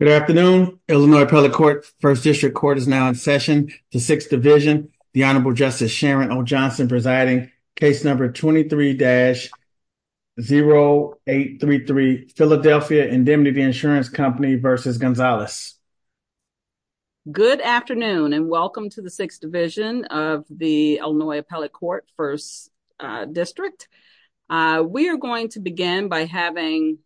Good afternoon, Illinois Appellate Court, 1st District Court is now in session. The 6th Division, the Honorable Justice Sharon O. Johnson presiding, case number 23-0833, Philadelphia Indemnity Insurance Company v. Gonzalez. Good afternoon and welcome to the 6th Division of the Illinois Appellate Court, 1st District. We are going to begin by having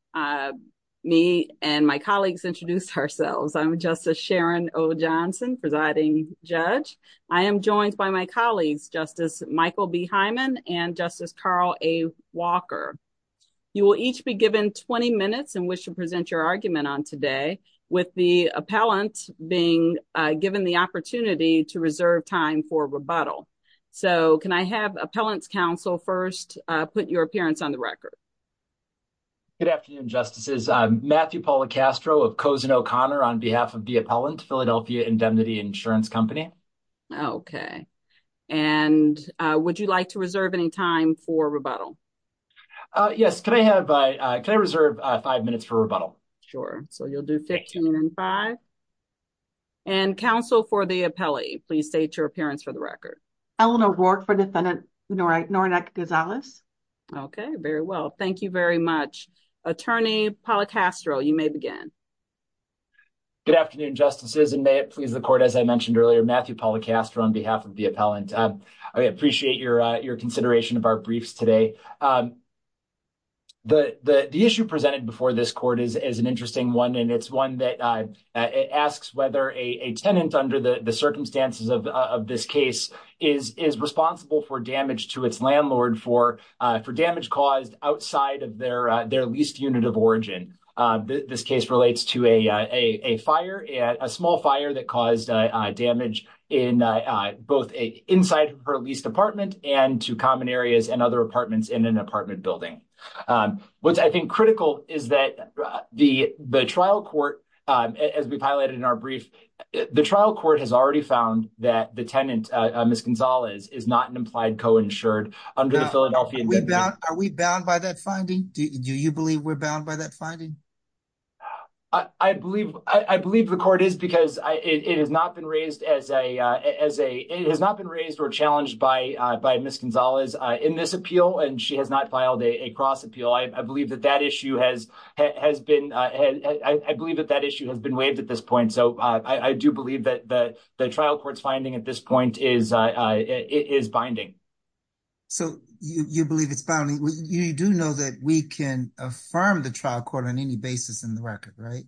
me and my colleagues introduce ourselves. I'm Justice Sharon O. Johnson, presiding judge. I am joined by my colleagues, Justice Michael B. Hyman and Justice Carl A. Walker. You will each be given 20 minutes in which to present your argument on today with the appellant being given the opportunity to reserve time for rebuttal. So can I have the appellant's counsel first put your appearance on the record. Good afternoon, Justices. I'm Matthew Paula Castro of Cozen O'Connor on behalf of the appellant, Philadelphia Indemnity Insurance Company. Okay. And would you like to reserve any time for rebuttal? Yes. Can I have, can I reserve five minutes for rebuttal? Sure. So you'll do 15 and five. And counsel for the appellee, please state your appearance for the record. Eleanor Rourke for Defendant Norenak-Gonzalez. Okay. Very well. Thank you very much. Attorney Paula Castro, you may begin. Good afternoon, Justices. And may it please the court, as I mentioned earlier, Matthew Paula Castro on behalf of the appellant. I appreciate your consideration of our briefs today. The issue presented before this court is an interesting one. And it's one that asks whether a tenant under the circumstances of this case is responsible for damage to its landlord for damage caused outside of their leased unit of origin. This case relates to a fire, a small fire that caused damage in both inside her leased apartment and to common areas and other apartments in an apartment building. What's I think critical is that the trial court as we've highlighted in our brief, the trial court has already found that the tenant, Ms. Gonzalez, is not an implied co-insured under the Philadelphia- Are we bound by that finding? Do you believe we're bound by that finding? I believe the court is because it has not been raised or challenged by Ms. Gonzalez in this appeal. And she has not filed a cross appeal. I believe that that issue has been waived at this point. So I do believe that the trial court's finding at this point is binding. So you believe it's bounding. You do know that we can affirm the trial court on any basis in the record, right?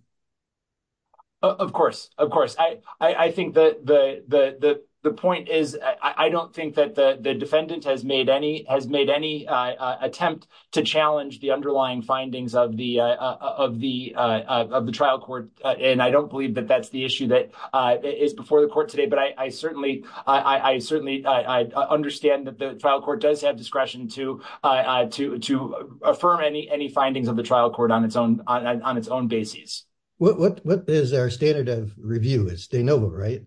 Of course. Of course. I don't think that the defendant has made any attempt to challenge the underlying findings of the trial court. And I don't believe that that's the issue that is before the court today. But I certainly understand that the trial court does have discretion to affirm any findings of the trial court on its own basis. What is our standard of review? It's de novo, right?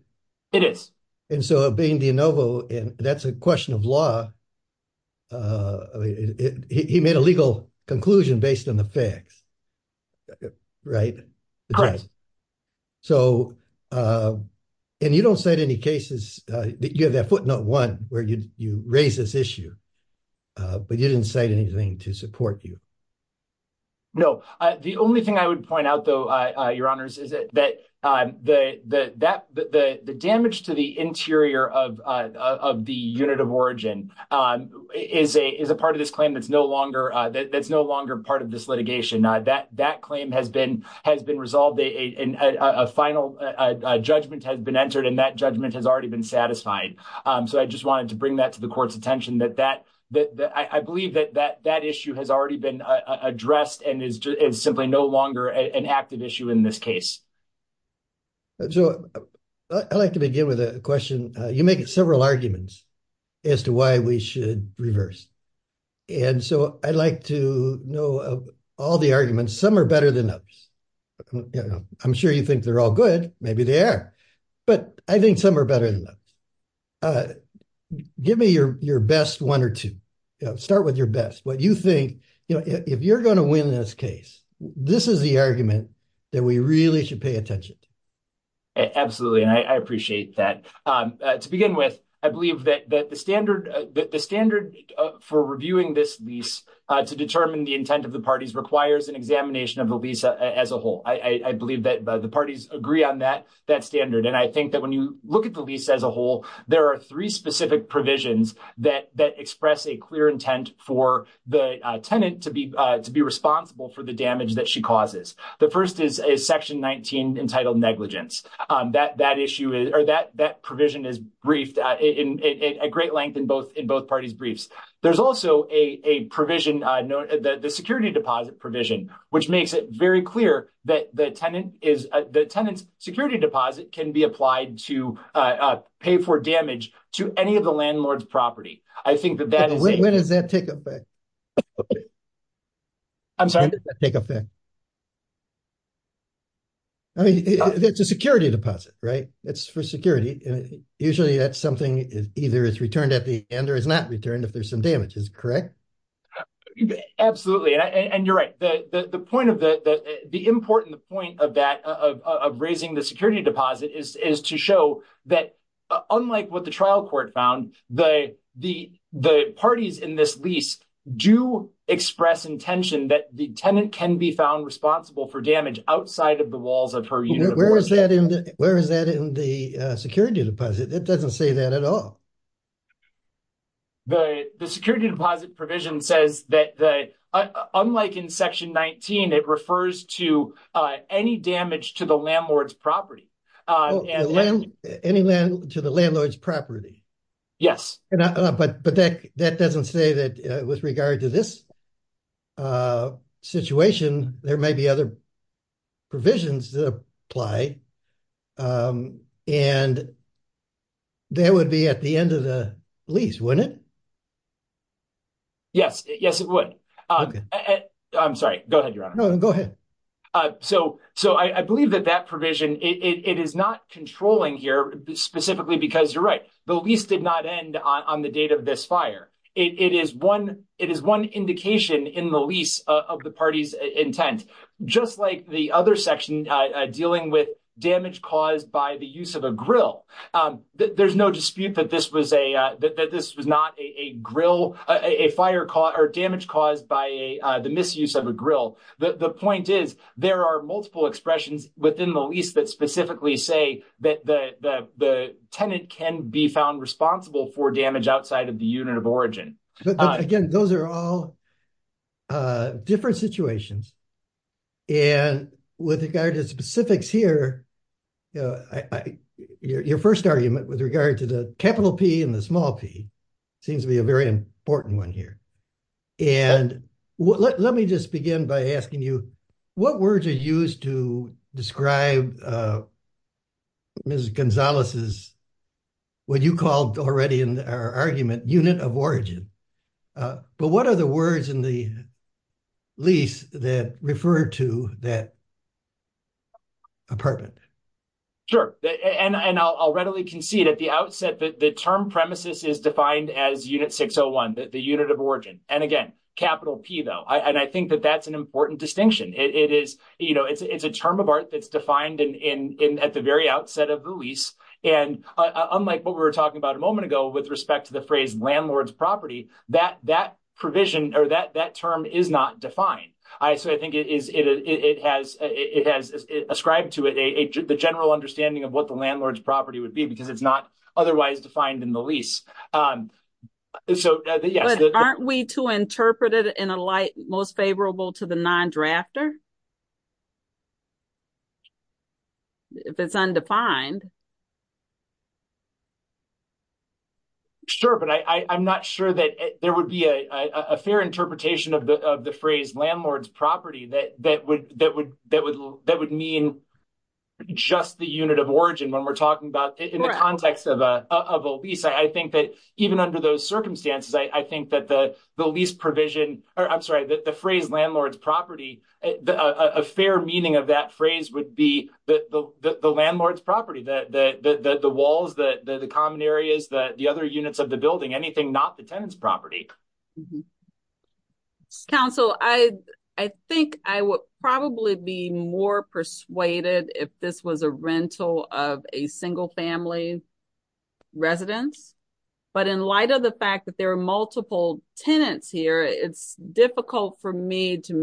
It is. And so being de novo, that's a question of law. He made a legal conclusion based on the facts, right? And you don't cite any cases, you have that footnote one where you raise this issue, but you didn't cite anything to support you. No. The only thing I would point out, though, Your Honors, is that the damage to the interior of the unit of origin is a part of this claim that's no longer part of this litigation. That claim has been resolved. A final judgment has been entered and that judgment has already been satisfied. So I just wanted to bring that to the court's attention that I believe that that issue has already been addressed and is simply no longer an active issue in this case. So I'd like to begin with a question. You make several arguments as to why we should reverse. And so I'd like to know all the arguments. Some are better than others. I'm sure you think they're all good. Maybe they are. But I think some are better than others. All right. Give me your best one or two. Start with your best. What you think, you know, if you're going to win this case, this is the argument that we really should pay attention to. Absolutely. And I appreciate that. To begin with, I believe that the standard for reviewing this lease to determine the intent of the parties requires an examination of the lease as a whole. I believe that the parties agree on that standard. And I think that when you look at the lease as a whole, there are three specific provisions that express a clear intent for the tenant to be responsible for the damage that she causes. The first is section 19 entitled negligence. That provision is briefed at great length in both parties' briefs. There's also a provision, the security deposit provision, which makes it very clear that the tenant's security deposit can be applied to pay for damage to any of the landlord's property. When does that take effect? It's a security deposit, right? It's for security. Usually that's something either it's returned at the end or it's not returned if there's some damage. Is it correct? Absolutely. And you're right. The important point of that, of raising the security deposit, is to show that unlike what the trial court found, the parties in this lease do express intention that the tenant can be found responsible for damage outside of the walls of her unit. Where is that in the security deposit? It doesn't say that at all. The security deposit provision says that, unlike in section 19, it refers to any damage to the landlord's property. Any land to the landlord's property? Yes. But that doesn't say that with regard to this situation, there may be other provisions that apply and that would be at the end of the lease. Yes, it would. I'm sorry. Go ahead, Your Honor. No, go ahead. So I believe that that provision, it is not controlling here specifically because you're right. The lease did not end on the date of this fire. It is one indication in the lease of the party's intent. Just like the other section dealing with damage caused by the use of a grill, there's no dispute that this was not a damage caused by the misuse of a grill. The point is, there are multiple expressions within the lease that specifically say that the tenant can be found responsible for damage outside of the unit of origin. But again, those are all different situations. And with regard to specifics here, your first argument with regard to the capital P and the small p seems to be a very important one here. And let me just begin by asking you, what words are used to describe Mrs. Gonzalez's, what you called already in our argument, unit of origin? But what are the words in the lease that refer to that apartment? Sure. And I'll readily concede at the outset that the term premises is defined as unit 601, the unit of origin. And again, capital P though. And I think that that's an important distinction. It's a term of art that's defined at the very outset of the lease. And unlike what we were talking about a moment ago with respect to the phrase landlord's property, that term is not defined. So I think it has ascribed to it the general understanding of what the landlord's property would be because it's not otherwise defined in the lease. But aren't we to interpret it in a light most favorable to the non-drafter? If it's undefined. Sure. But I'm not sure that there would be a fair interpretation of the phrase landlord's property that would mean just the unit of origin when we're talking about in the context of a lease. I think that even under those circumstances, I think that the lease provision, or I'm sorry, that the phrase landlord's property, a fair meaning of that phrase would be the landlord's areas, the other units of the building, anything not the tenant's property. Council, I think I would probably be more persuaded if this was a rental of a single family residence. But in light of the fact that there are multiple tenants here, it's difficult for me to a particular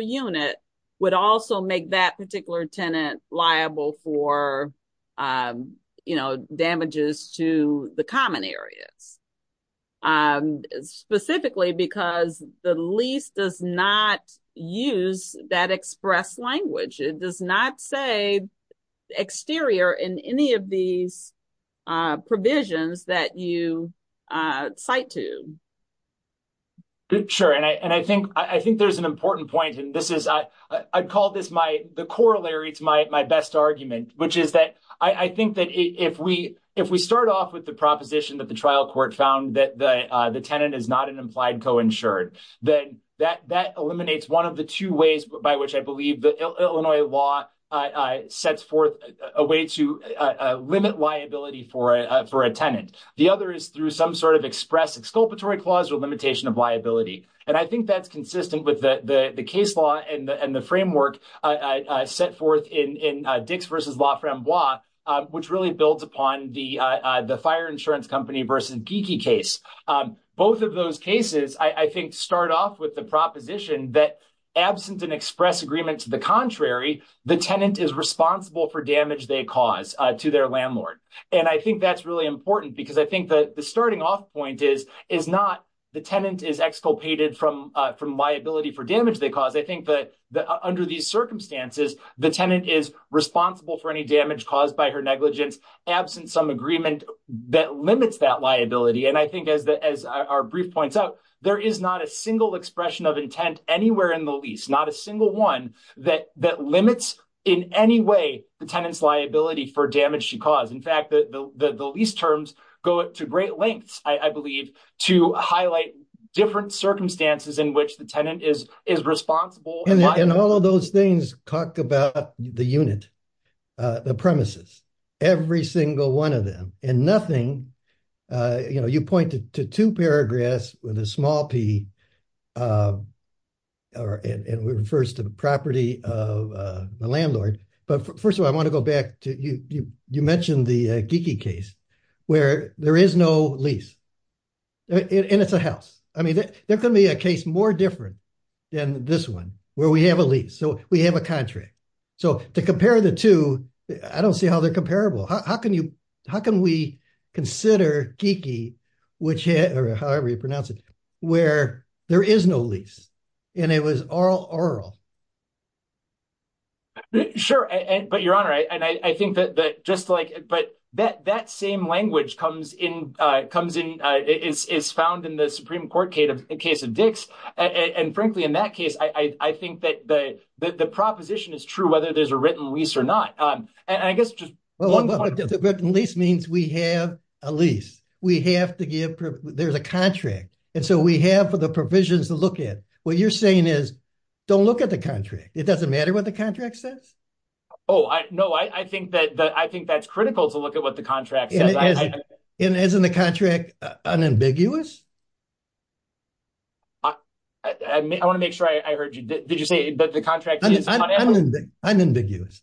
unit would also make that particular tenant liable for damages to the common areas. Specifically because the lease does not use that express language. It does not say exterior in any of these provisions that you cite to. Good. Sure. And I think there's an important point. I'd call this the corollary to my best argument, which is that I think that if we start off with the proposition that the trial court found that the tenant is not an implied co-insured, then that eliminates one of the two ways by which I believe the Illinois law sets forth a way to limit liability for a tenant. The other is through some sort of express exculpatory clause or limitation of liability. And I think that's consistent with the case law and the framework set forth in Dix versus LaFramboise, which really builds upon the fire insurance company versus Geeky case. Both of those cases, I think, start off with the proposition that absent an express agreement to the contrary, the tenant is responsible for damage they cause to their landlord. And I think that's really important because I think that the starting off point is not the tenant is exculpated from liability for damage they cause. I think that under these circumstances, the tenant is responsible for any damage caused by her negligence absent some agreement that limits that liability. And I think as our brief points out, there is not a single expression of intent anywhere in the lease, not a single one that limits in any way the tenant's liability for damage she caused. In go to great lengths, I believe, to highlight different circumstances in which the tenant is responsible. And all of those things talk about the unit, the premises, every single one of them and nothing, you know, you pointed to two paragraphs with a small P or it refers to the property of the landlord. But first of all, I want to go back to you. You mentioned the geeky case where there is no lease and it's a house. I mean, there can be a case more different than this one where we have a lease. So we have a contract. So to compare the two, I don't see how they're comparable. How can you, how can we consider geeky, whichever, however you pronounce it, where there is no lease and it was all oral. Sure. And, but your honor, I, and I, I think that, that just like, but that, that same language comes in, uh, comes in, uh, is, is found in the Supreme court case of case of Dix. And frankly, in that case, I, I think that the, that the proposition is true, whether there's a written lease or not. Um, and I guess just the written lease means we have a lease. We have to give, there's a contract. And so we have for the provisions to look at what you're saying is don't look at the contract. It doesn't matter what the contract says. Oh, I, no, I, I think that the, I think that's critical to look at what the contract isn't the contract unambiguous. I want to make sure I heard you. Did you say that the contract unambiguous,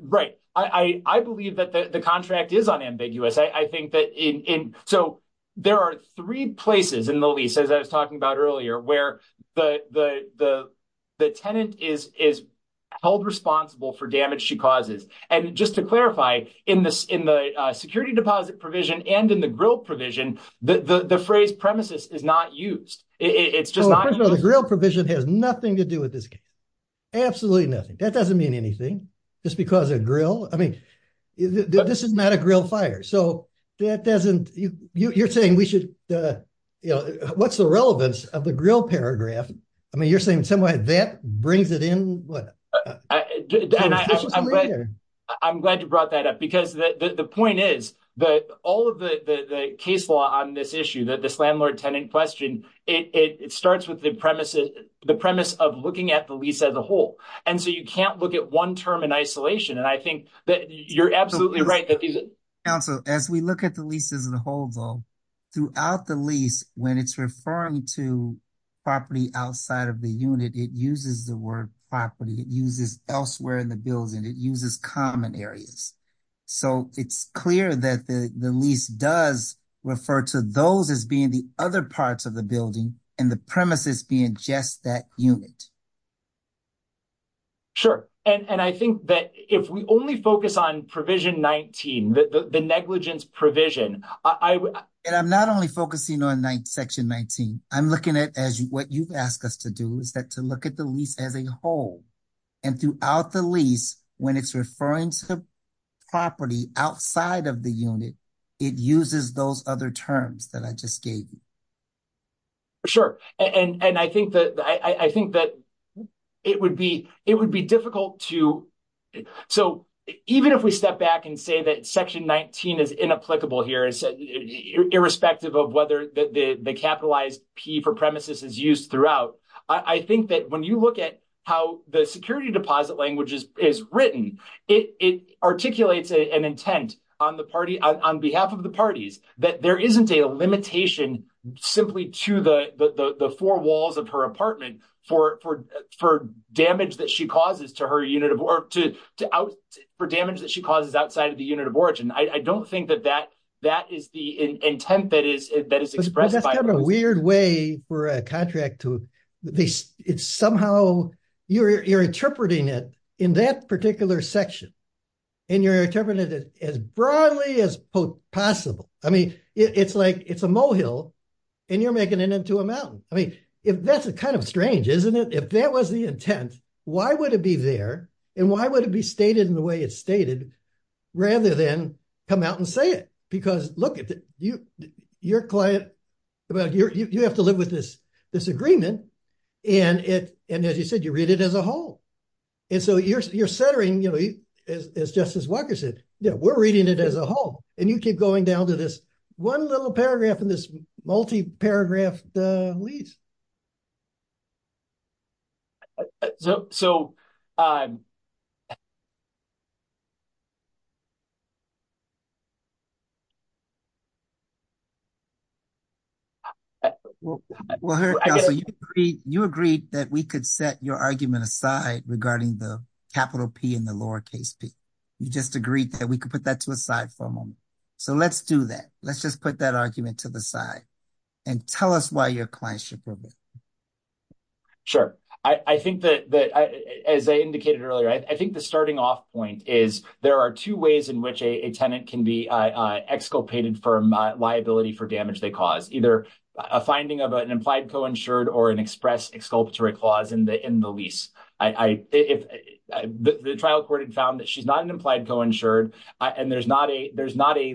right? I believe that the contract is unambiguous. I think that in, in, so there are three places in the lease, as I was talking about earlier, where the, the, the, the tenant is, is held responsible for damage she causes. And just to clarify in this, in the, uh, security deposit provision and in the grill provision, the, the, the phrase premises is not used. It's just not the grill provision has nothing to do with this. Absolutely nothing. That doesn't mean anything just because a grill, I mean, this is not a grill fire. So that doesn't you you're saying we should, uh, you know, what's the relevance of the grill paragraph. I mean, you're saying in some way that brings it in. I'm glad you brought that up because the point is that all of the, the, the case law on this issue that this landlord tenant question, it starts with the premises, the premise of looking at the lease as a whole. And so you can't look at one term in isolation. And I think that you're absolutely right. Also, as we look at the leases and holds all throughout the lease, when it's referring to property outside of the unit, it uses the word property uses elsewhere in the building. It uses common areas. So it's clear that the lease does refer to those as being the other parts of the building and the premises being just that unit. Sure. And I think that if we only focus on provision 19, the negligence provision. And I'm not only focusing on section 19. I'm looking at as what you've asked us to do is that to look at the lease as a whole and throughout the lease, when it's referring to property outside of the unit, it uses those other terms that I just gave. Sure. And, and I think that, I think that it would be, it would be difficult to, so even if we step back and say that section 19 is inapplicable here, irrespective of whether the capitalized P for premises is used throughout. I think that when you look at how the security deposit language is written, it articulates an intent on the party, on behalf of the parties, that there isn't a limitation simply to the, the four walls of her apartment for, for, for damage that she causes to her unit of work to, to out for damage that she causes outside of the unit of origin. I don't think that that, that is the intent that is, that is expressed by a weird way for a contract to the it's somehow you're, you're interpreting it in that particular section and you're interpreting it as broadly as possible. I mean, it's like, it's a mohill and you're making it into a mountain. I mean, if that's a kind of strange, isn't it? If that was the intent, why would it be there? And why would it be stated in the way it's stated rather than come out and say it? Because look, you, your client about your, you have to you're centering, you know, as, as justice Walker said, yeah, we're reading it as a whole and you keep going down to this one little paragraph in this multi-paragraph, the lease. So, so, so you agreed that we could set your argument aside regarding the capital P in the lowercase P. You just agreed that we could put that to a side for a moment. So let's do that. Let's just put that argument to the side and tell us why your clientship. Sure. I think that as I indicated earlier, I think the starting off point is there are two ways in which a tenant can be exculpated from liability for damage. They cause either a finding of an implied co-insured or an express exculpatory clause in the, in the lease. I, I, if the trial court had found that she's not an implied co-insured and there's not a, there's not a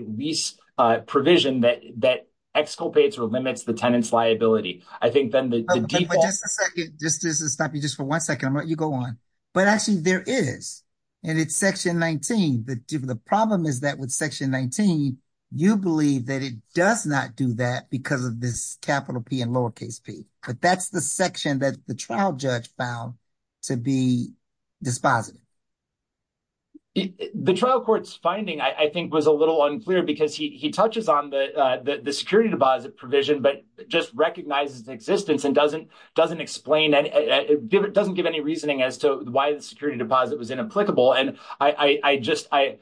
provision that, that exculpates or limits the tenant's liability. I think then the. Just, just to stop you just for one second, I'm going to let you go on, but actually there is, and it's section 19. The problem is that with section 19, you believe that it does not do that because of this capital P and lowercase P, but that's the section that the trial judge found to be dispositive. The trial court's finding, I think was a little unclear because he, he touches on the, the security deposit provision, but just recognizes the existence and doesn't, doesn't explain any, it doesn't give any reasoning as to why the security deposit was inapplicable. And I, I, I just, I,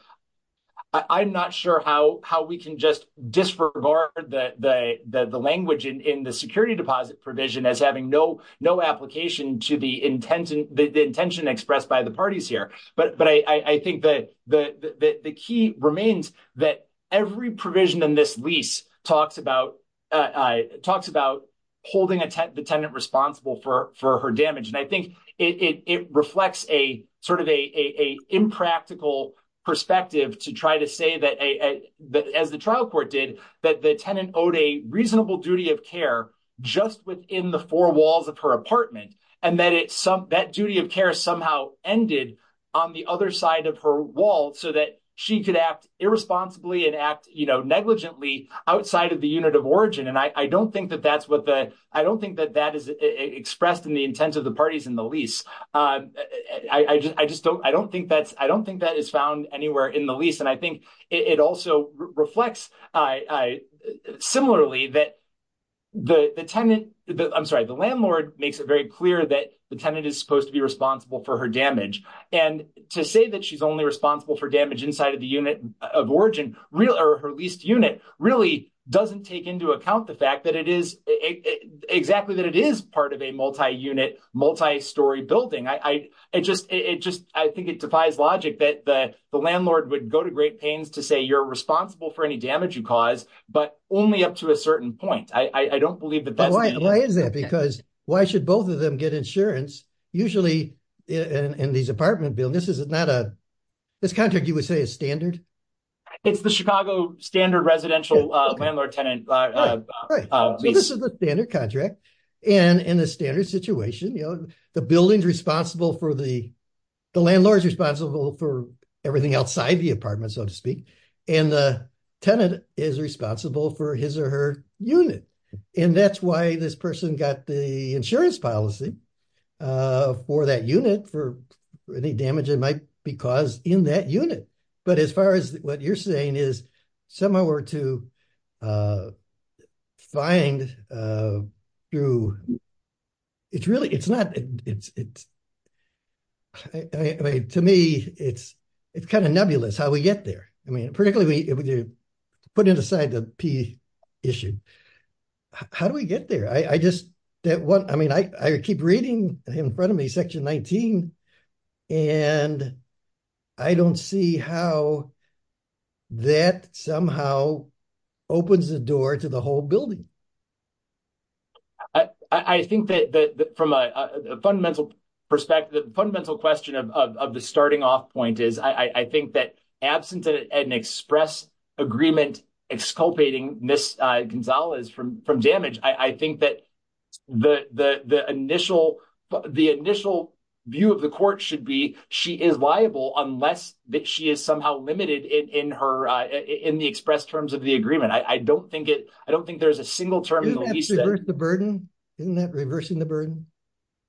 I'm not sure how, how we can just disregard the, the, the, the language in, in the security deposit provision as having no, no application to the intention expressed by the parties here. But, but I, I think that the, the, the, the key remains that every provision in this lease talks about, talks about holding a tenant, the tenant responsible for, for her damage. And I think it, it, it reflects a sort of a, a, a impractical perspective to try to say that a, that as the trial court did, that the tenant owed a reasonable duty of care just within the four walls of her apartment. And that it's some, that duty of care somehow ended on the other side of her wall so that she could act irresponsibly and act, you know, negligently outside of the unit of origin. And I, I don't think that that's what the, I don't think that that is expressed in the intent of the parties in the lease. I just, I just don't, I don't think that's, I don't think that is found anywhere in the lease. I think it also reflects, I, I, similarly that the, the tenant, I'm sorry, the landlord makes it very clear that the tenant is supposed to be responsible for her damage. And to say that she's only responsible for damage inside of the unit of origin, or her leased unit, really doesn't take into account the fact that it is, exactly that it is part of a multi-unit, multi-story building. I, I just, it just, I think it defies logic that the landlord would go to great pains to say you're responsible for any damage you cause, but only up to a certain point. I don't believe that. Why is that? Because why should both of them get insurance? Usually in these apartment buildings, this is not a, this contract you would say is standard. It's the Chicago standard residential landlord tenant lease. This is the standard contract. And in the standard situation, you know, the building's responsible for the, the landlord's responsible for everything outside the apartment, so to speak. And the tenant is responsible for his or her unit. And that's why this person got the insurance policy for that unit for any damage that might be caused in that unit. But as far as what you're saying is similar to find through, it's really, it's not, it's, it's, I mean, to me, it's, it's kind of nebulous how we get there. I mean, particularly when you put it aside the P issue. How do we get there? I just, that one, I mean, I, I keep reading in front of me section 19, and I don't see how that somehow opens the door to the whole building. I think that from a fundamental perspective, the fundamental question of the starting off point is, I think that absent an express agreement, exculpating Ms. Gonzalez from damage, I think that the initial, the initial view of the court should be, she is liable unless that she is somehow limited in her, in the express terms of the agreement. I don't think it, I don't think there's a single term. Isn't that reversing the burden?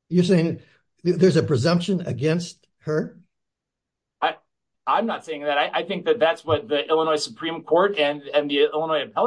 You're saying there's a presumption against her? I'm not saying that. I think that that's what the Illinois Supreme Court and the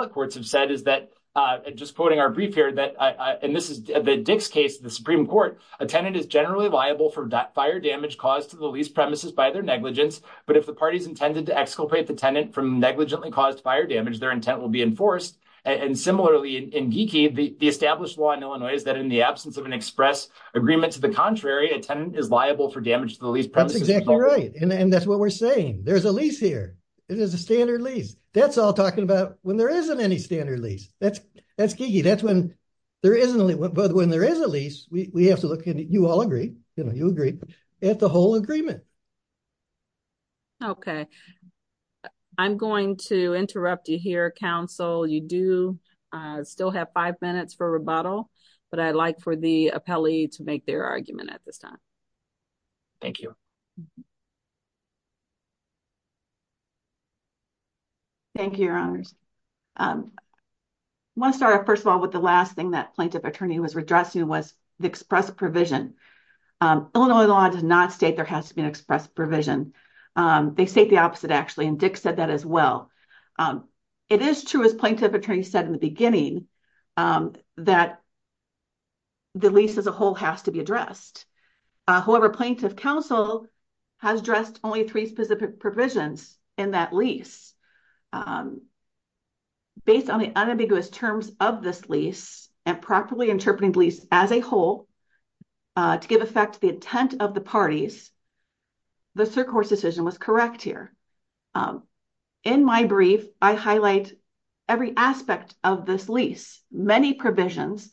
brief here that I, and this is the Dick's case, the Supreme Court, a tenant is generally liable for that fire damage caused to the lease premises by their negligence. But if the party's intended to exculpate the tenant from negligently caused fire damage, their intent will be enforced. And similarly in Geeky, the established law in Illinois is that in the absence of an express agreement to the contrary, a tenant is liable for damage to the lease premises. That's exactly right. And that's what we're saying. There's a lease here. It is a standard lease. That's all talking about when there isn't any standard lease. That's, that's Geeky. That's when there isn't, but when there is a lease, we have to look and you all agree, you know, you agree at the whole agreement. Okay. I'm going to interrupt you here, counsel. You do still have five minutes for rebuttal, but I'd like for the Thank you, your honors. I want to start off first of all, with the last thing that plaintiff attorney was addressing was the express provision. Illinois law does not state there has to be an express provision. They state the opposite actually. And Dick said that as well. It is true as plaintiff attorney said in the beginning that the lease as a whole has to be addressed. However, plaintiff counsel has addressed only three specific provisions in that lease. Based on the unambiguous terms of this lease and properly interpreting lease as a whole to give effect to the intent of the parties. The circuit decision was correct here. In my brief, I highlight every aspect of this lease, many provisions,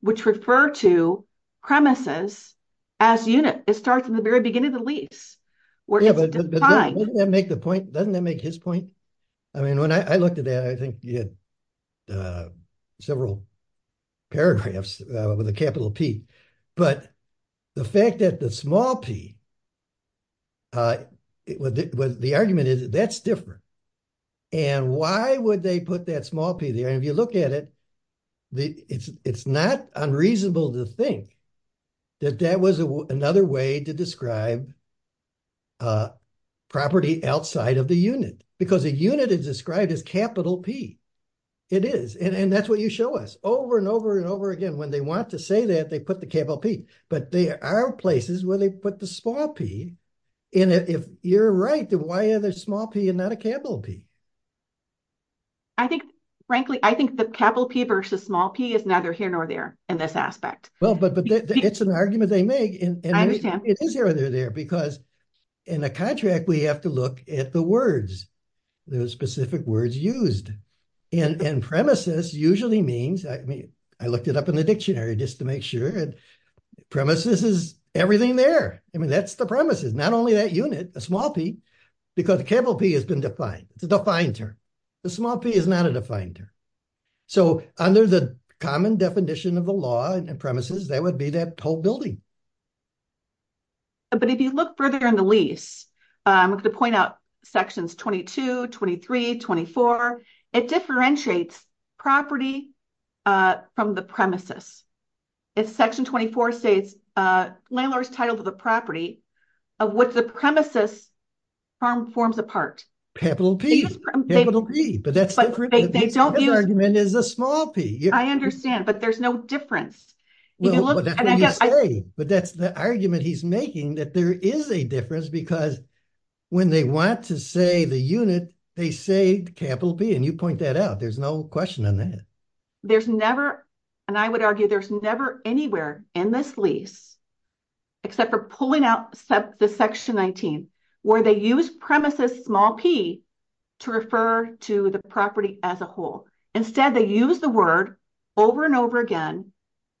which refer to premises as unit. It starts in the very beginning of the lease. Yeah, but doesn't that make the point? Doesn't that make his point? I mean, when I looked at that, I think you had several paragraphs with a capital P, but the fact that the small P, the argument is that's different. And why would they put that small P there? And if you look at the, it's not unreasonable to think that that was another way to describe property outside of the unit because a unit is described as capital P. It is. And that's what you show us over and over and over again. When they want to say that they put the capital P, but there are places where they put the small P in it. If you're right, then why are there small P and not a capital P? I think, frankly, I think the capital P versus small P is neither here nor there in this aspect. Well, but it's an argument they make. I understand. It is here or there because in a contract, we have to look at the words, those specific words used. And premises usually means, I mean, I looked it up in the dictionary just to make sure. Premises is been defined. It's a defined term. The small P is not a defined term. So under the common definition of the law and premises, that would be that whole building. But if you look further in the lease, I'm going to point out sections 22, 23, 24, it differentiates property from the premises. It's section 24 states landlord's title to the property of what the premises forms apart. Capital P. Capital P. But that's the argument is a small P. I understand, but there's no difference. But that's the argument he's making that there is a difference because when they want to say the unit, they say capital P. And you point that out. There's no question in that. There's never, and I would argue there's never anywhere in this lease except for pulling out the section 19 where they use premises small P to refer to the property as a whole. Instead, they use the word over and over again,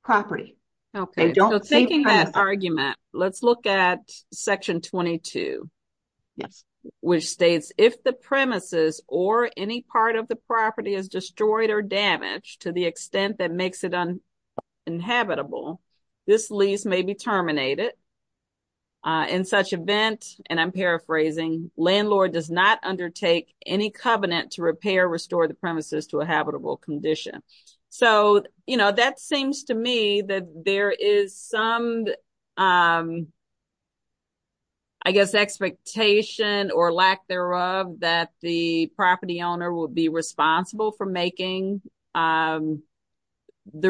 property. Okay. So taking that argument, let's look at section 22, which states if the premises or any part of the property is destroyed or damaged to the extent that makes it uninhabitable, this lease may be terminated. In such event, and I'm paraphrasing, landlord does not undertake any covenant to repair, restore the premises to a I guess expectation or lack thereof that the property owner will be responsible for making the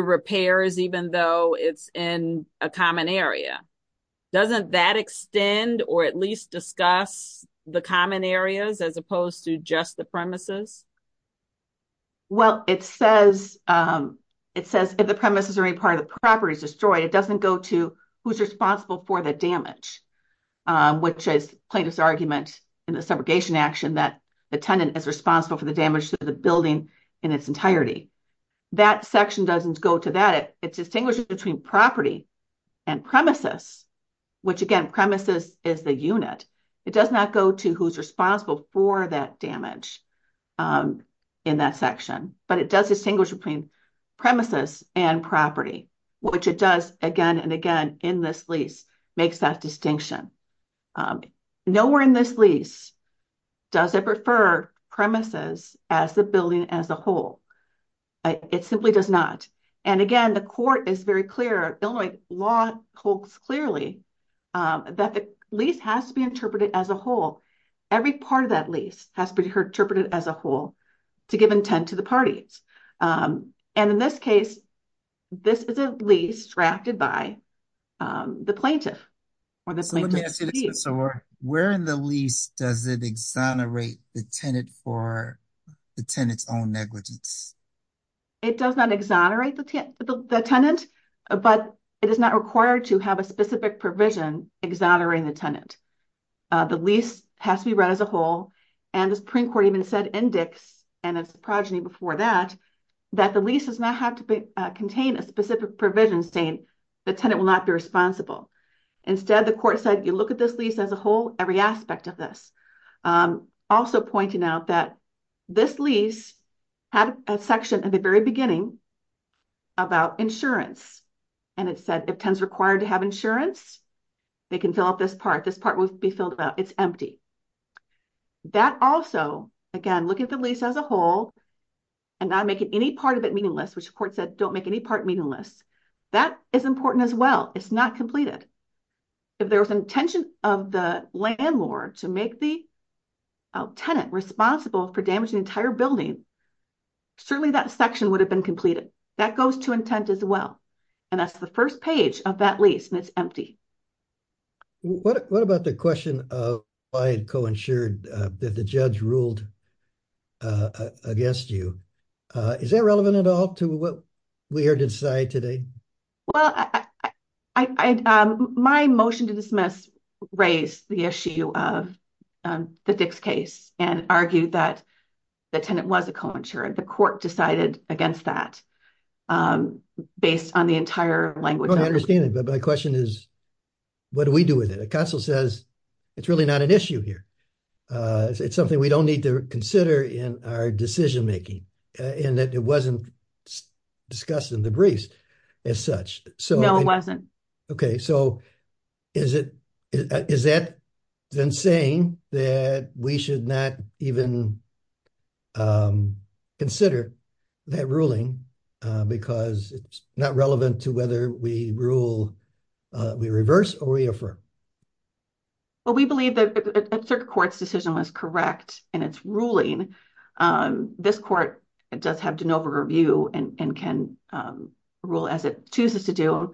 repairs, even though it's in a common area. Doesn't that extend or at least discuss the common areas as opposed to just the premises? Well, it says it says if the premises are a part of the property is destroyed, it doesn't go to who's responsible for the damage, which is plaintiff's argument in the subrogation action that the tenant is responsible for the damage to the building in its entirety. That section doesn't go to that. It distinguishes between property and premises, which again, premises is the unit. It does not go to who's responsible for that damage in that section, but it does distinguish between premises and property. Which it does again and again in this lease makes that distinction. Nowhere in this lease does it prefer premises as the building as a whole. It simply does not. And again, the court is very clear. Illinois law holds clearly that the lease has to be interpreted as a whole. Every part of that lease has to be interpreted as a whole to give intent to the lease drafted by the plaintiff. So where in the lease does it exonerate the tenant for the tenant's own negligence? It does not exonerate the tenant, but it is not required to have a specific provision exonerating the tenant. The lease has to be read as a whole. And the Supreme Court even said in Dix and its progeny before that, that the lease does not have to contain a specific provision saying the tenant will not be responsible. Instead, the court said, you look at this lease as a whole, every aspect of this. Also pointing out that this lease had a section at the very beginning about insurance. And it said, if tenants required to have insurance, they can fill up this part. This part will be filled up. It's empty. That also, again, look at the lease as a whole and not make it any part of it meaningless, which the court said, don't make any part meaningless. That is important as well. It's not completed. If there was intention of the landlord to make the tenant responsible for damaging the entire building, certainly that section would have been completed. That goes to intent as well. And that's the first page of that lease, and it's empty. What about the question of why it co-insured that the judge ruled against you? Is that relevant at all to what we heard inside today? Well, my motion to dismiss raised the issue of the Dick's case and argued that the tenant was a co-insurer. The court decided against that based on the entire language. I understand it, but my question is, what do we do with it? A council says, it's really not an issue here. It's something we don't need to consider in our decision-making and that it wasn't discussed in the briefs as such. No, it wasn't. So is that then saying that we should not even consider that ruling because it's not relevant to whether we reverse or reaffirm? Well, we believe that a certain court's decision was correct in its ruling. This court does have de novo review and can rule as it chooses to do.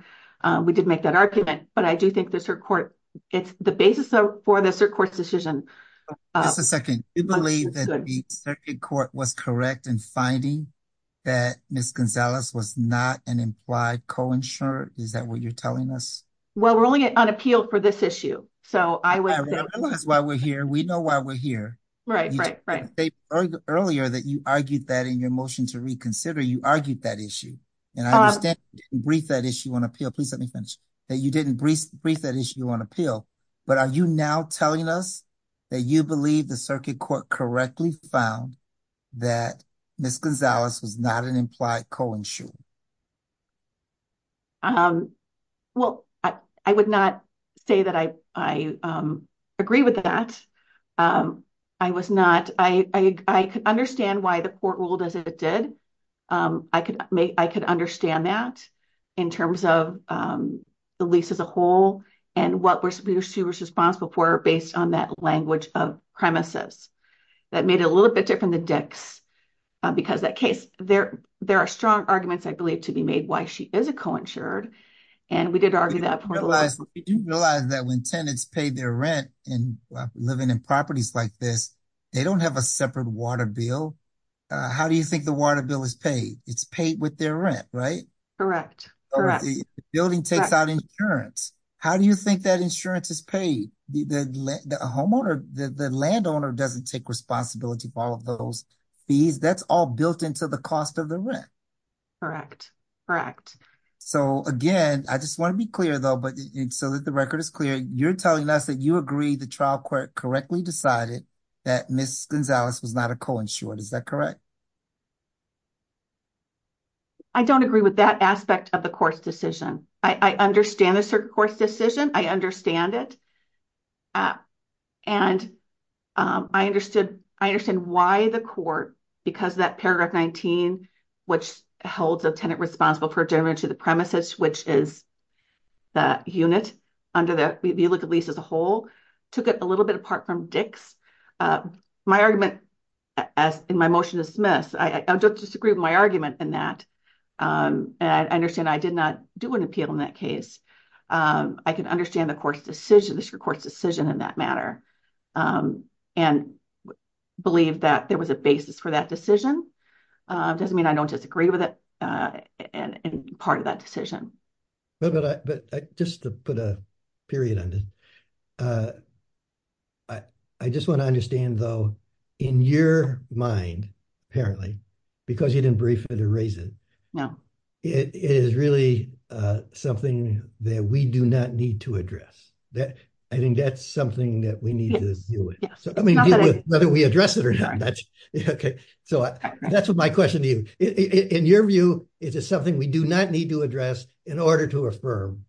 We did make that argument, but I do think it's the basis for the cert court's decision. Just a second. You believe that the cert court was correct in finding that Ms. Gonzalez was not an implied co-insurer? Is that what you're telling us? Well, we're only on appeal for this issue. I realize why we're here. We know why we're here. You said earlier that you argued that in your motion to reconsider, you argued that issue. And I understand you didn't brief that issue on appeal. Please let me finish. That you didn't brief that issue on appeal, but are you now telling us that you believe the cert court correctly found that Ms. Gonzalez was not an implied co-insurer? Well, I would not say that I agree with that. I could understand why the court ruled as it did. I could understand that in terms of the lease as a whole and what we were responsible for based on that language of premises. That made it a little bit different than Dick's because that case, there are strong arguments, I believe, to be made why she is a co-insured. And we did argue that- Did you realize that when tenants pay their rent in living in properties like this, they don't have a separate water bill? How do you think the water bill is paid? It's paid with their rent, right? Correct. Correct. The building takes out insurance. How do you think that insurance is paid? The homeowner, the landowner doesn't take responsibility for all of those fees. That's all built into the cost of the rent. Correct. Correct. So again, I just want to be clear though, so that the record is clear. You're telling us that you agree the trial court correctly decided that Ms. Gonzalez was not a co-insured. Is that correct? I don't agree with that aspect of the court's decision. I understand the court's decision. I understand it. And I understand why the court, because of that paragraph 19, which holds a tenant responsible for adjournment to the premises, which is the unit under the view of the lease as a whole, took it a little bit apart from Dick's. My argument in my motion is dismissed. I don't disagree with my argument in that. And I understand I did not do an appeal in that case. I can understand the court's decision, the court's decision in that matter, and believe that there was a basis for that decision. Doesn't mean I don't disagree with it and part of that decision. But just to put a period on it, I just want to understand though, in your mind, apparently, because you didn't brief it or raise it, it is really something that we do not need to address. I think that's something that we need to deal with. Whether we address it or not. So that's my question to you. In your view, is it something we do not need to address in order to affirm?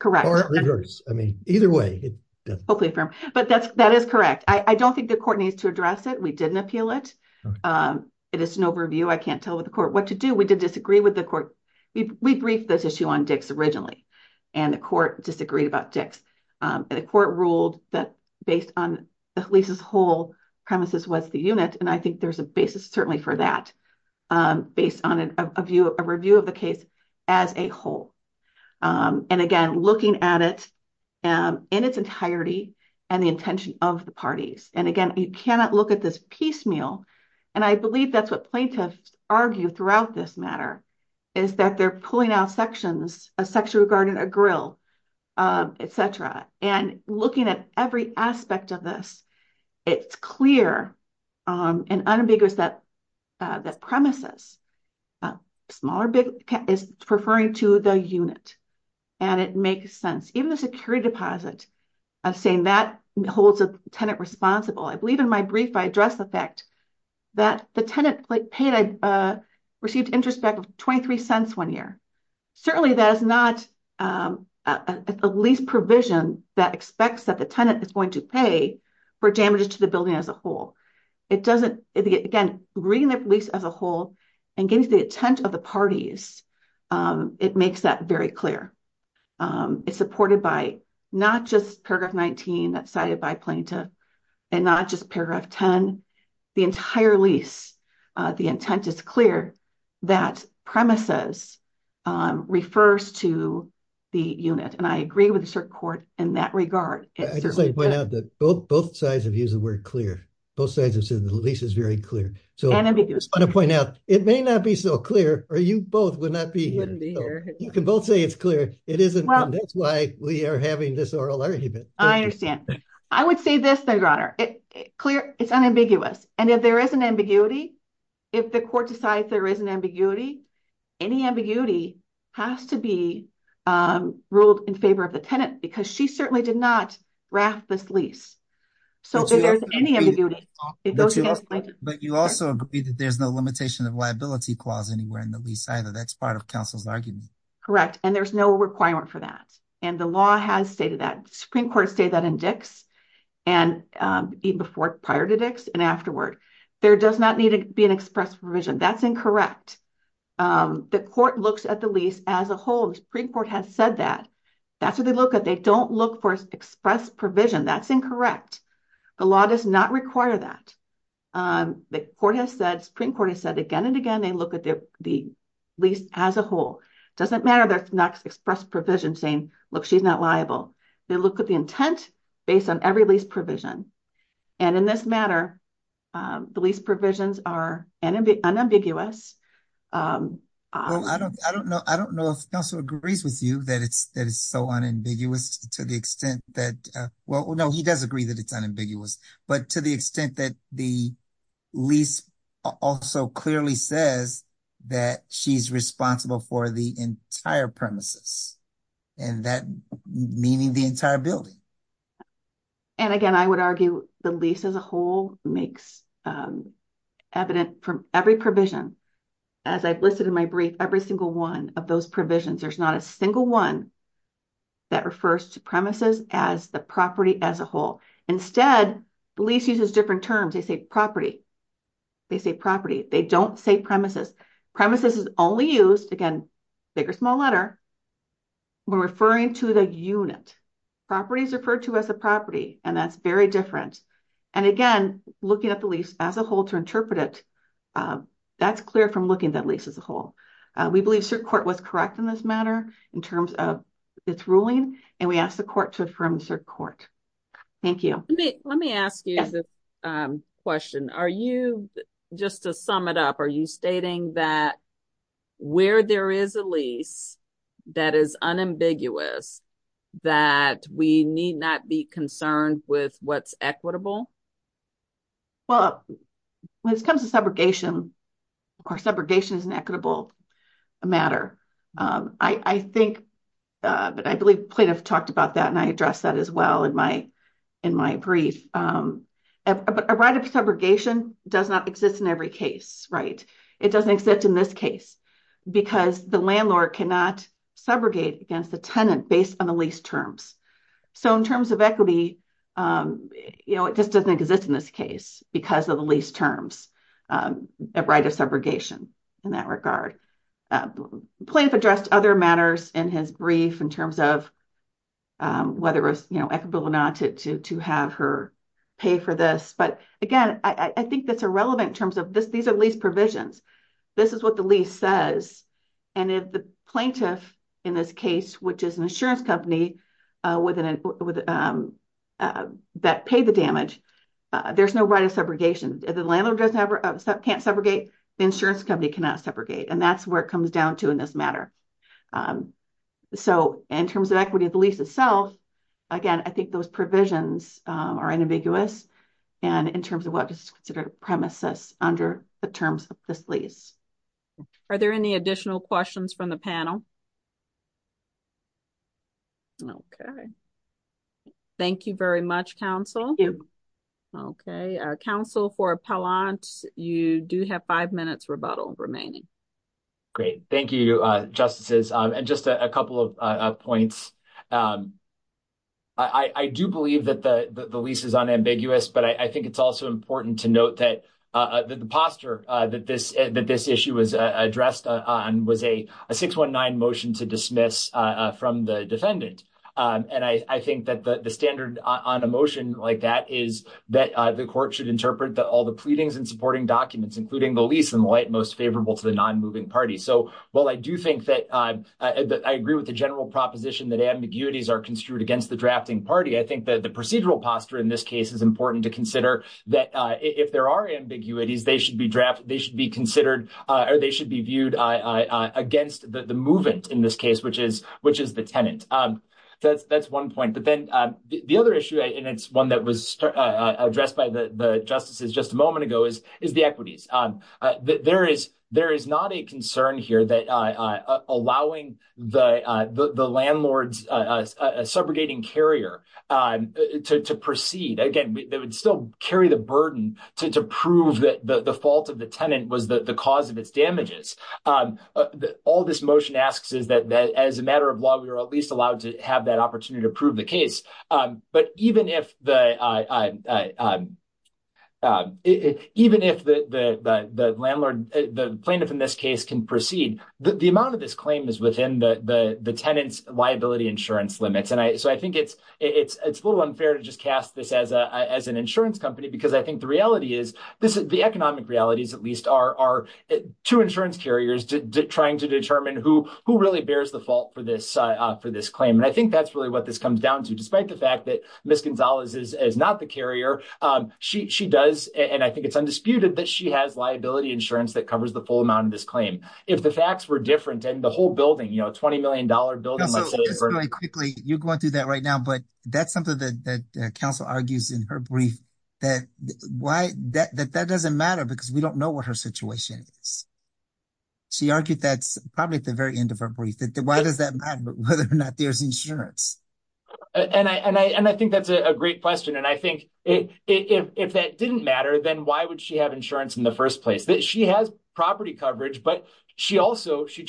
Correct. But that is correct. I don't think the court needs to address it. We didn't appeal it. It is an overview. I can't tell what the court, what to do. We did disagree with the court. We briefed this issue on Dick's originally and the court disagreed about Dick's. The court ruled that based on the lease's whole premises was the unit. And I think there's a basis certainly for that based on a review of the case as a whole. And again, looking at it in its entirety and the intention of the parties. And again, you cannot look at this piecemeal. And I believe that's what plaintiffs argue throughout this matter is that they're pulling out sections, a section regarding a grill, et cetera. And looking at every aspect of this, it's clear and unambiguous that the premises, small or big, is referring to the unit. And it makes sense. Even the security deposit, I'm saying that holds a tenant responsible. I that the tenant paid, received interest back of 23 cents one year. Certainly that is not a lease provision that expects that the tenant is going to pay for damages to the building as a whole. It doesn't, again, reading the lease as a whole and getting the intent of the parties, it makes that very clear. It's supported by not just paragraph 19 that's cited by plaintiff and not just paragraph 10. The entire lease, the intent is clear that premises refers to the unit. And I agree with the court in that regard. I just want to point out that both sides have used the word clear. Both sides have said the lease is very clear. So I just want to point out, it may not be so clear or you both would not be here. You can both say it's clear. It isn't. That's why we are having this oral argument. I understand. I would say this, Your Honor. It's clear. It's unambiguous. And if there is an ambiguity, if the court decides there is an ambiguity, any ambiguity has to be ruled in favor of the tenant because she certainly did not raft this lease. So if there's any ambiguity. But you also agree that there's no limitation of liability clause anywhere in the lease either. That's part of counsel's argument. Correct. And there's no requirement for that. And the law has stated that. Supreme Court stated that in Dix and even before prior to Dix and afterward. There does not need to be an express provision. That's incorrect. The court looks at the lease as a whole. The Supreme Court has said that. That's what they look at. They don't look for express provision. That's incorrect. The law does not require that. The court has said, Supreme Court has said again and again, they look at the lease as a whole. Doesn't matter that it's not express provision saying, look, she's not liable. They look at the intent based on every lease provision. And in this matter, the lease provisions are unambiguous. I don't know if counsel agrees with you that it's that it's so unambiguous to the extent that well, no, he does agree that it's unambiguous, but to the extent that the lease also clearly says that she's for the entire premises and that meaning the entire building. And again, I would argue the lease as a whole makes evident from every provision. As I've listed in my brief, every single one of those provisions, there's not a single one that refers to premises as the property as a whole. Instead, the lease uses different terms. They say property. They say property. They don't say premises. Premises is only used, again, big or small letter. We're referring to the unit. Property is referred to as a property, and that's very different. And again, looking at the lease as a whole to interpret it, that's clear from looking at lease as a whole. We believe cert court was correct in this matter in terms of its ruling, and we ask the court to affirm cert up. Are you stating that where there is a lease that is unambiguous, that we need not be concerned with what's equitable? Well, when it comes to subrogation, or subrogation is an equitable matter. I think, but I believe plaintiff talked about that, and I addressed that as well in my brief. A right of subrogation does not exist in every case, right? It doesn't exist in this case because the landlord cannot subrogate against the tenant based on the lease terms. So, in terms of equity, you know, it just doesn't exist in this case because of the lease terms, a right of subrogation in that regard. Plaintiff addressed other matters in his brief in terms of whether it's equitable or not to have her pay for this. But again, I think that's irrelevant in terms of this. These are lease provisions. This is what the lease says, and if the plaintiff in this case, which is an insurance company that paid the damage, there's no right of subrogation. If the landlord can't subrogate, the insurance company cannot subrogate, and that's where it comes down to in this matter. So, in terms of equity of the lease itself, again, I think those provisions are ambiguous, and in terms of what is considered premises under the terms of this lease. Are there any additional questions from the panel? Okay, thank you very much, counsel. Okay, counsel for appellant, you do have five minutes rebuttal remaining. Great, thank you, justices, and just a couple of points. I do believe that the lease is unambiguous, but I think it's also important to note that the posture that this issue was addressed on was a 619 motion to dismiss from the defendant, and I think that the standard on a motion like that is that the court should interpret all the pleadings and supporting documents, including the lease, in the light most favorable to the non-moving party. So, while I do think that I agree with the general proposition that ambiguities are construed against the drafting party, I think that the procedural posture in this case is important to consider that if there are ambiguities, they should be drafted, they should be considered, or they should be viewed against the movant in this case, which is the tenant. That's one point, but then the other issue, and it's one that was addressed by the justices just a moment ago, is the equities. There is not a concern here that allowing the landlord's subrogating carrier to proceed, again, they would still carry the burden to prove that the fault of the tenant was the cause of its damages. All this motion asks is that as a matter of law, we are at least allowed to have that opportunity to prove the case, but even if the landlord, the plaintiff in this case, can proceed, the amount of this claim is within the tenant's liability insurance limits. So, I think it's a little unfair to just cast this as an insurance company, because I think the reality is, the economic realities, at least, are two insurance carriers trying to determine who really bears the fault for this claim. And I think that's really what this comes down to, despite the fact that Ms. Gonzalez is not a carrier, she does, and I think it's undisputed, that she has liability insurance that covers the full amount of this claim. If the facts were different, and the whole building, you know, a $20 million building, let's say... Just very quickly, you're going through that right now, but that's something that counsel argues in her brief, that that doesn't matter because we don't know what her situation is. She argued that probably at the very end of her brief, that why does that matter, whether or not there's insurance? And I think that's a great question, and I think if that didn't matter, then why would she have insurance in the first place? She has property coverage, but she also, she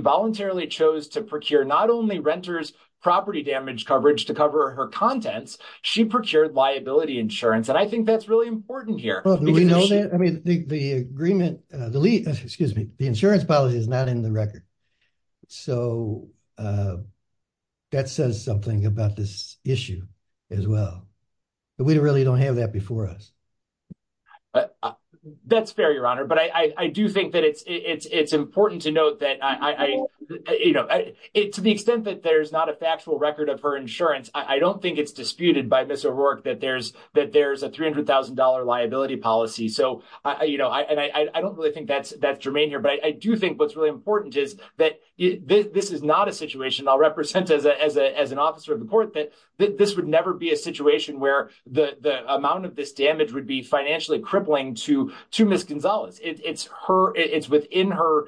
voluntarily chose to procure not only renter's property damage coverage to cover her contents, she procured liability insurance, and I think that's really important here. Well, do we know that? I mean, the insurance policy is not in the But we really don't have that before us. That's fair, Your Honor, but I do think that it's important to note that, you know, to the extent that there's not a factual record of her insurance, I don't think it's disputed by Ms. O'Rourke that there's a $300,000 liability policy. So, you know, and I don't really think that's germane here, but I do think what's really important is that this is not a situation, I'll represent as an officer of the court, that this would never be a situation where the amount of this damage would be financially crippling to Ms. Gonzalez. It's her, it's within her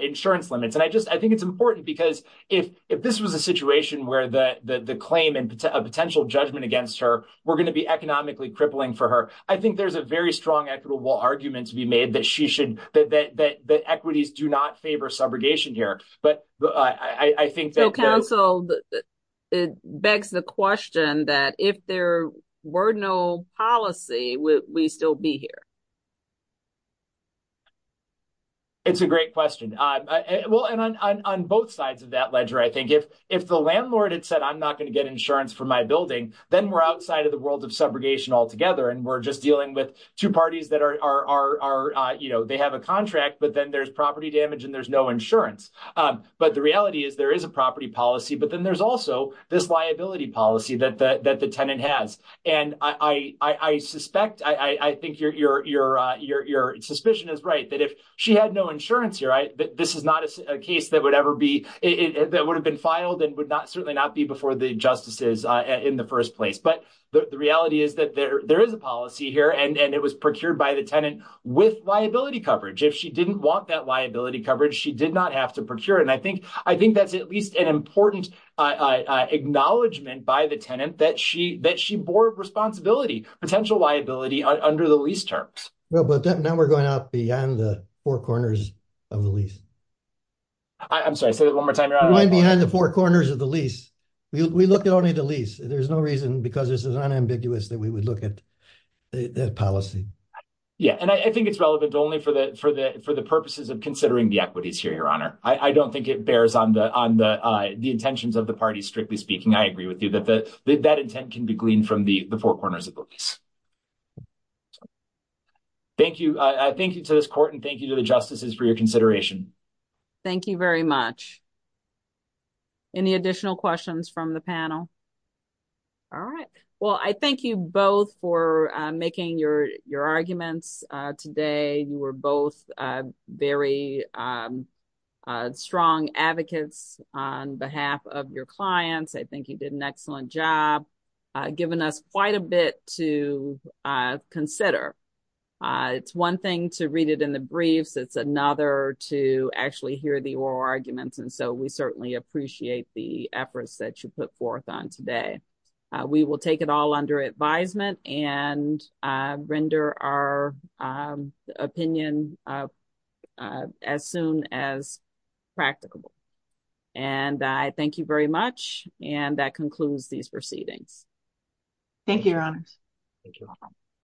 insurance limits, and I just, I think it's important because if this was a situation where the claim and a potential judgment against her were going to be economically crippling for her, I think there's a very strong equitable argument to be made that she should, that equities do not favor subrogation here, but I think that counsel begs the question that if there were no policy, would we still be here? It's a great question. Well, and on both sides of that ledger, I think if the landlord had said, I'm not going to get insurance for my building, then we're outside of the world of subrogation altogether, and we're just dealing with two parties that are, you know, they have a contract, but then there's property damage and there's no insurance. But the reality is there is a property policy, but then there's also this liability policy that the tenant has. And I suspect, I think your suspicion is right, that if she had no insurance here, this is not a case that would ever be, that would have been filed and would certainly not be before the justices in the first place. But the reality is that there is a policy here and it was procured by the tenant with liability coverage. If she didn't want that liability coverage, she did not have to procure. I think that's at least an important acknowledgement by the tenant that she bore responsibility, potential liability under the lease terms. Well, but now we're going out beyond the four corners of the lease. I'm sorry, say that one more time, Your Honor. We're going behind the four corners of the lease. We look at only the lease. There's no reason, because this is unambiguous, that we would look at that policy. Yeah, and I think it's relevant only for the purposes of considering the equities here, Your Honor. I don't think it bears on the intentions of the parties, strictly speaking. I agree with you that that intent can be gleaned from the four corners of the lease. Thank you. I thank you to this court and thank you to the justices for your consideration. Thank you very much. Any additional questions from the panel? All right. Well, I thank you both for making your arguments today. You were both very strong advocates on behalf of your clients. I think you did an excellent job, giving us quite a bit to consider. It's one thing to read it in the briefs. It's another to actually hear the oral arguments. And so we certainly appreciate the efforts that you put into it. It's practicable. And I thank you very much. And that concludes these proceedings. Thank you, Your Honor.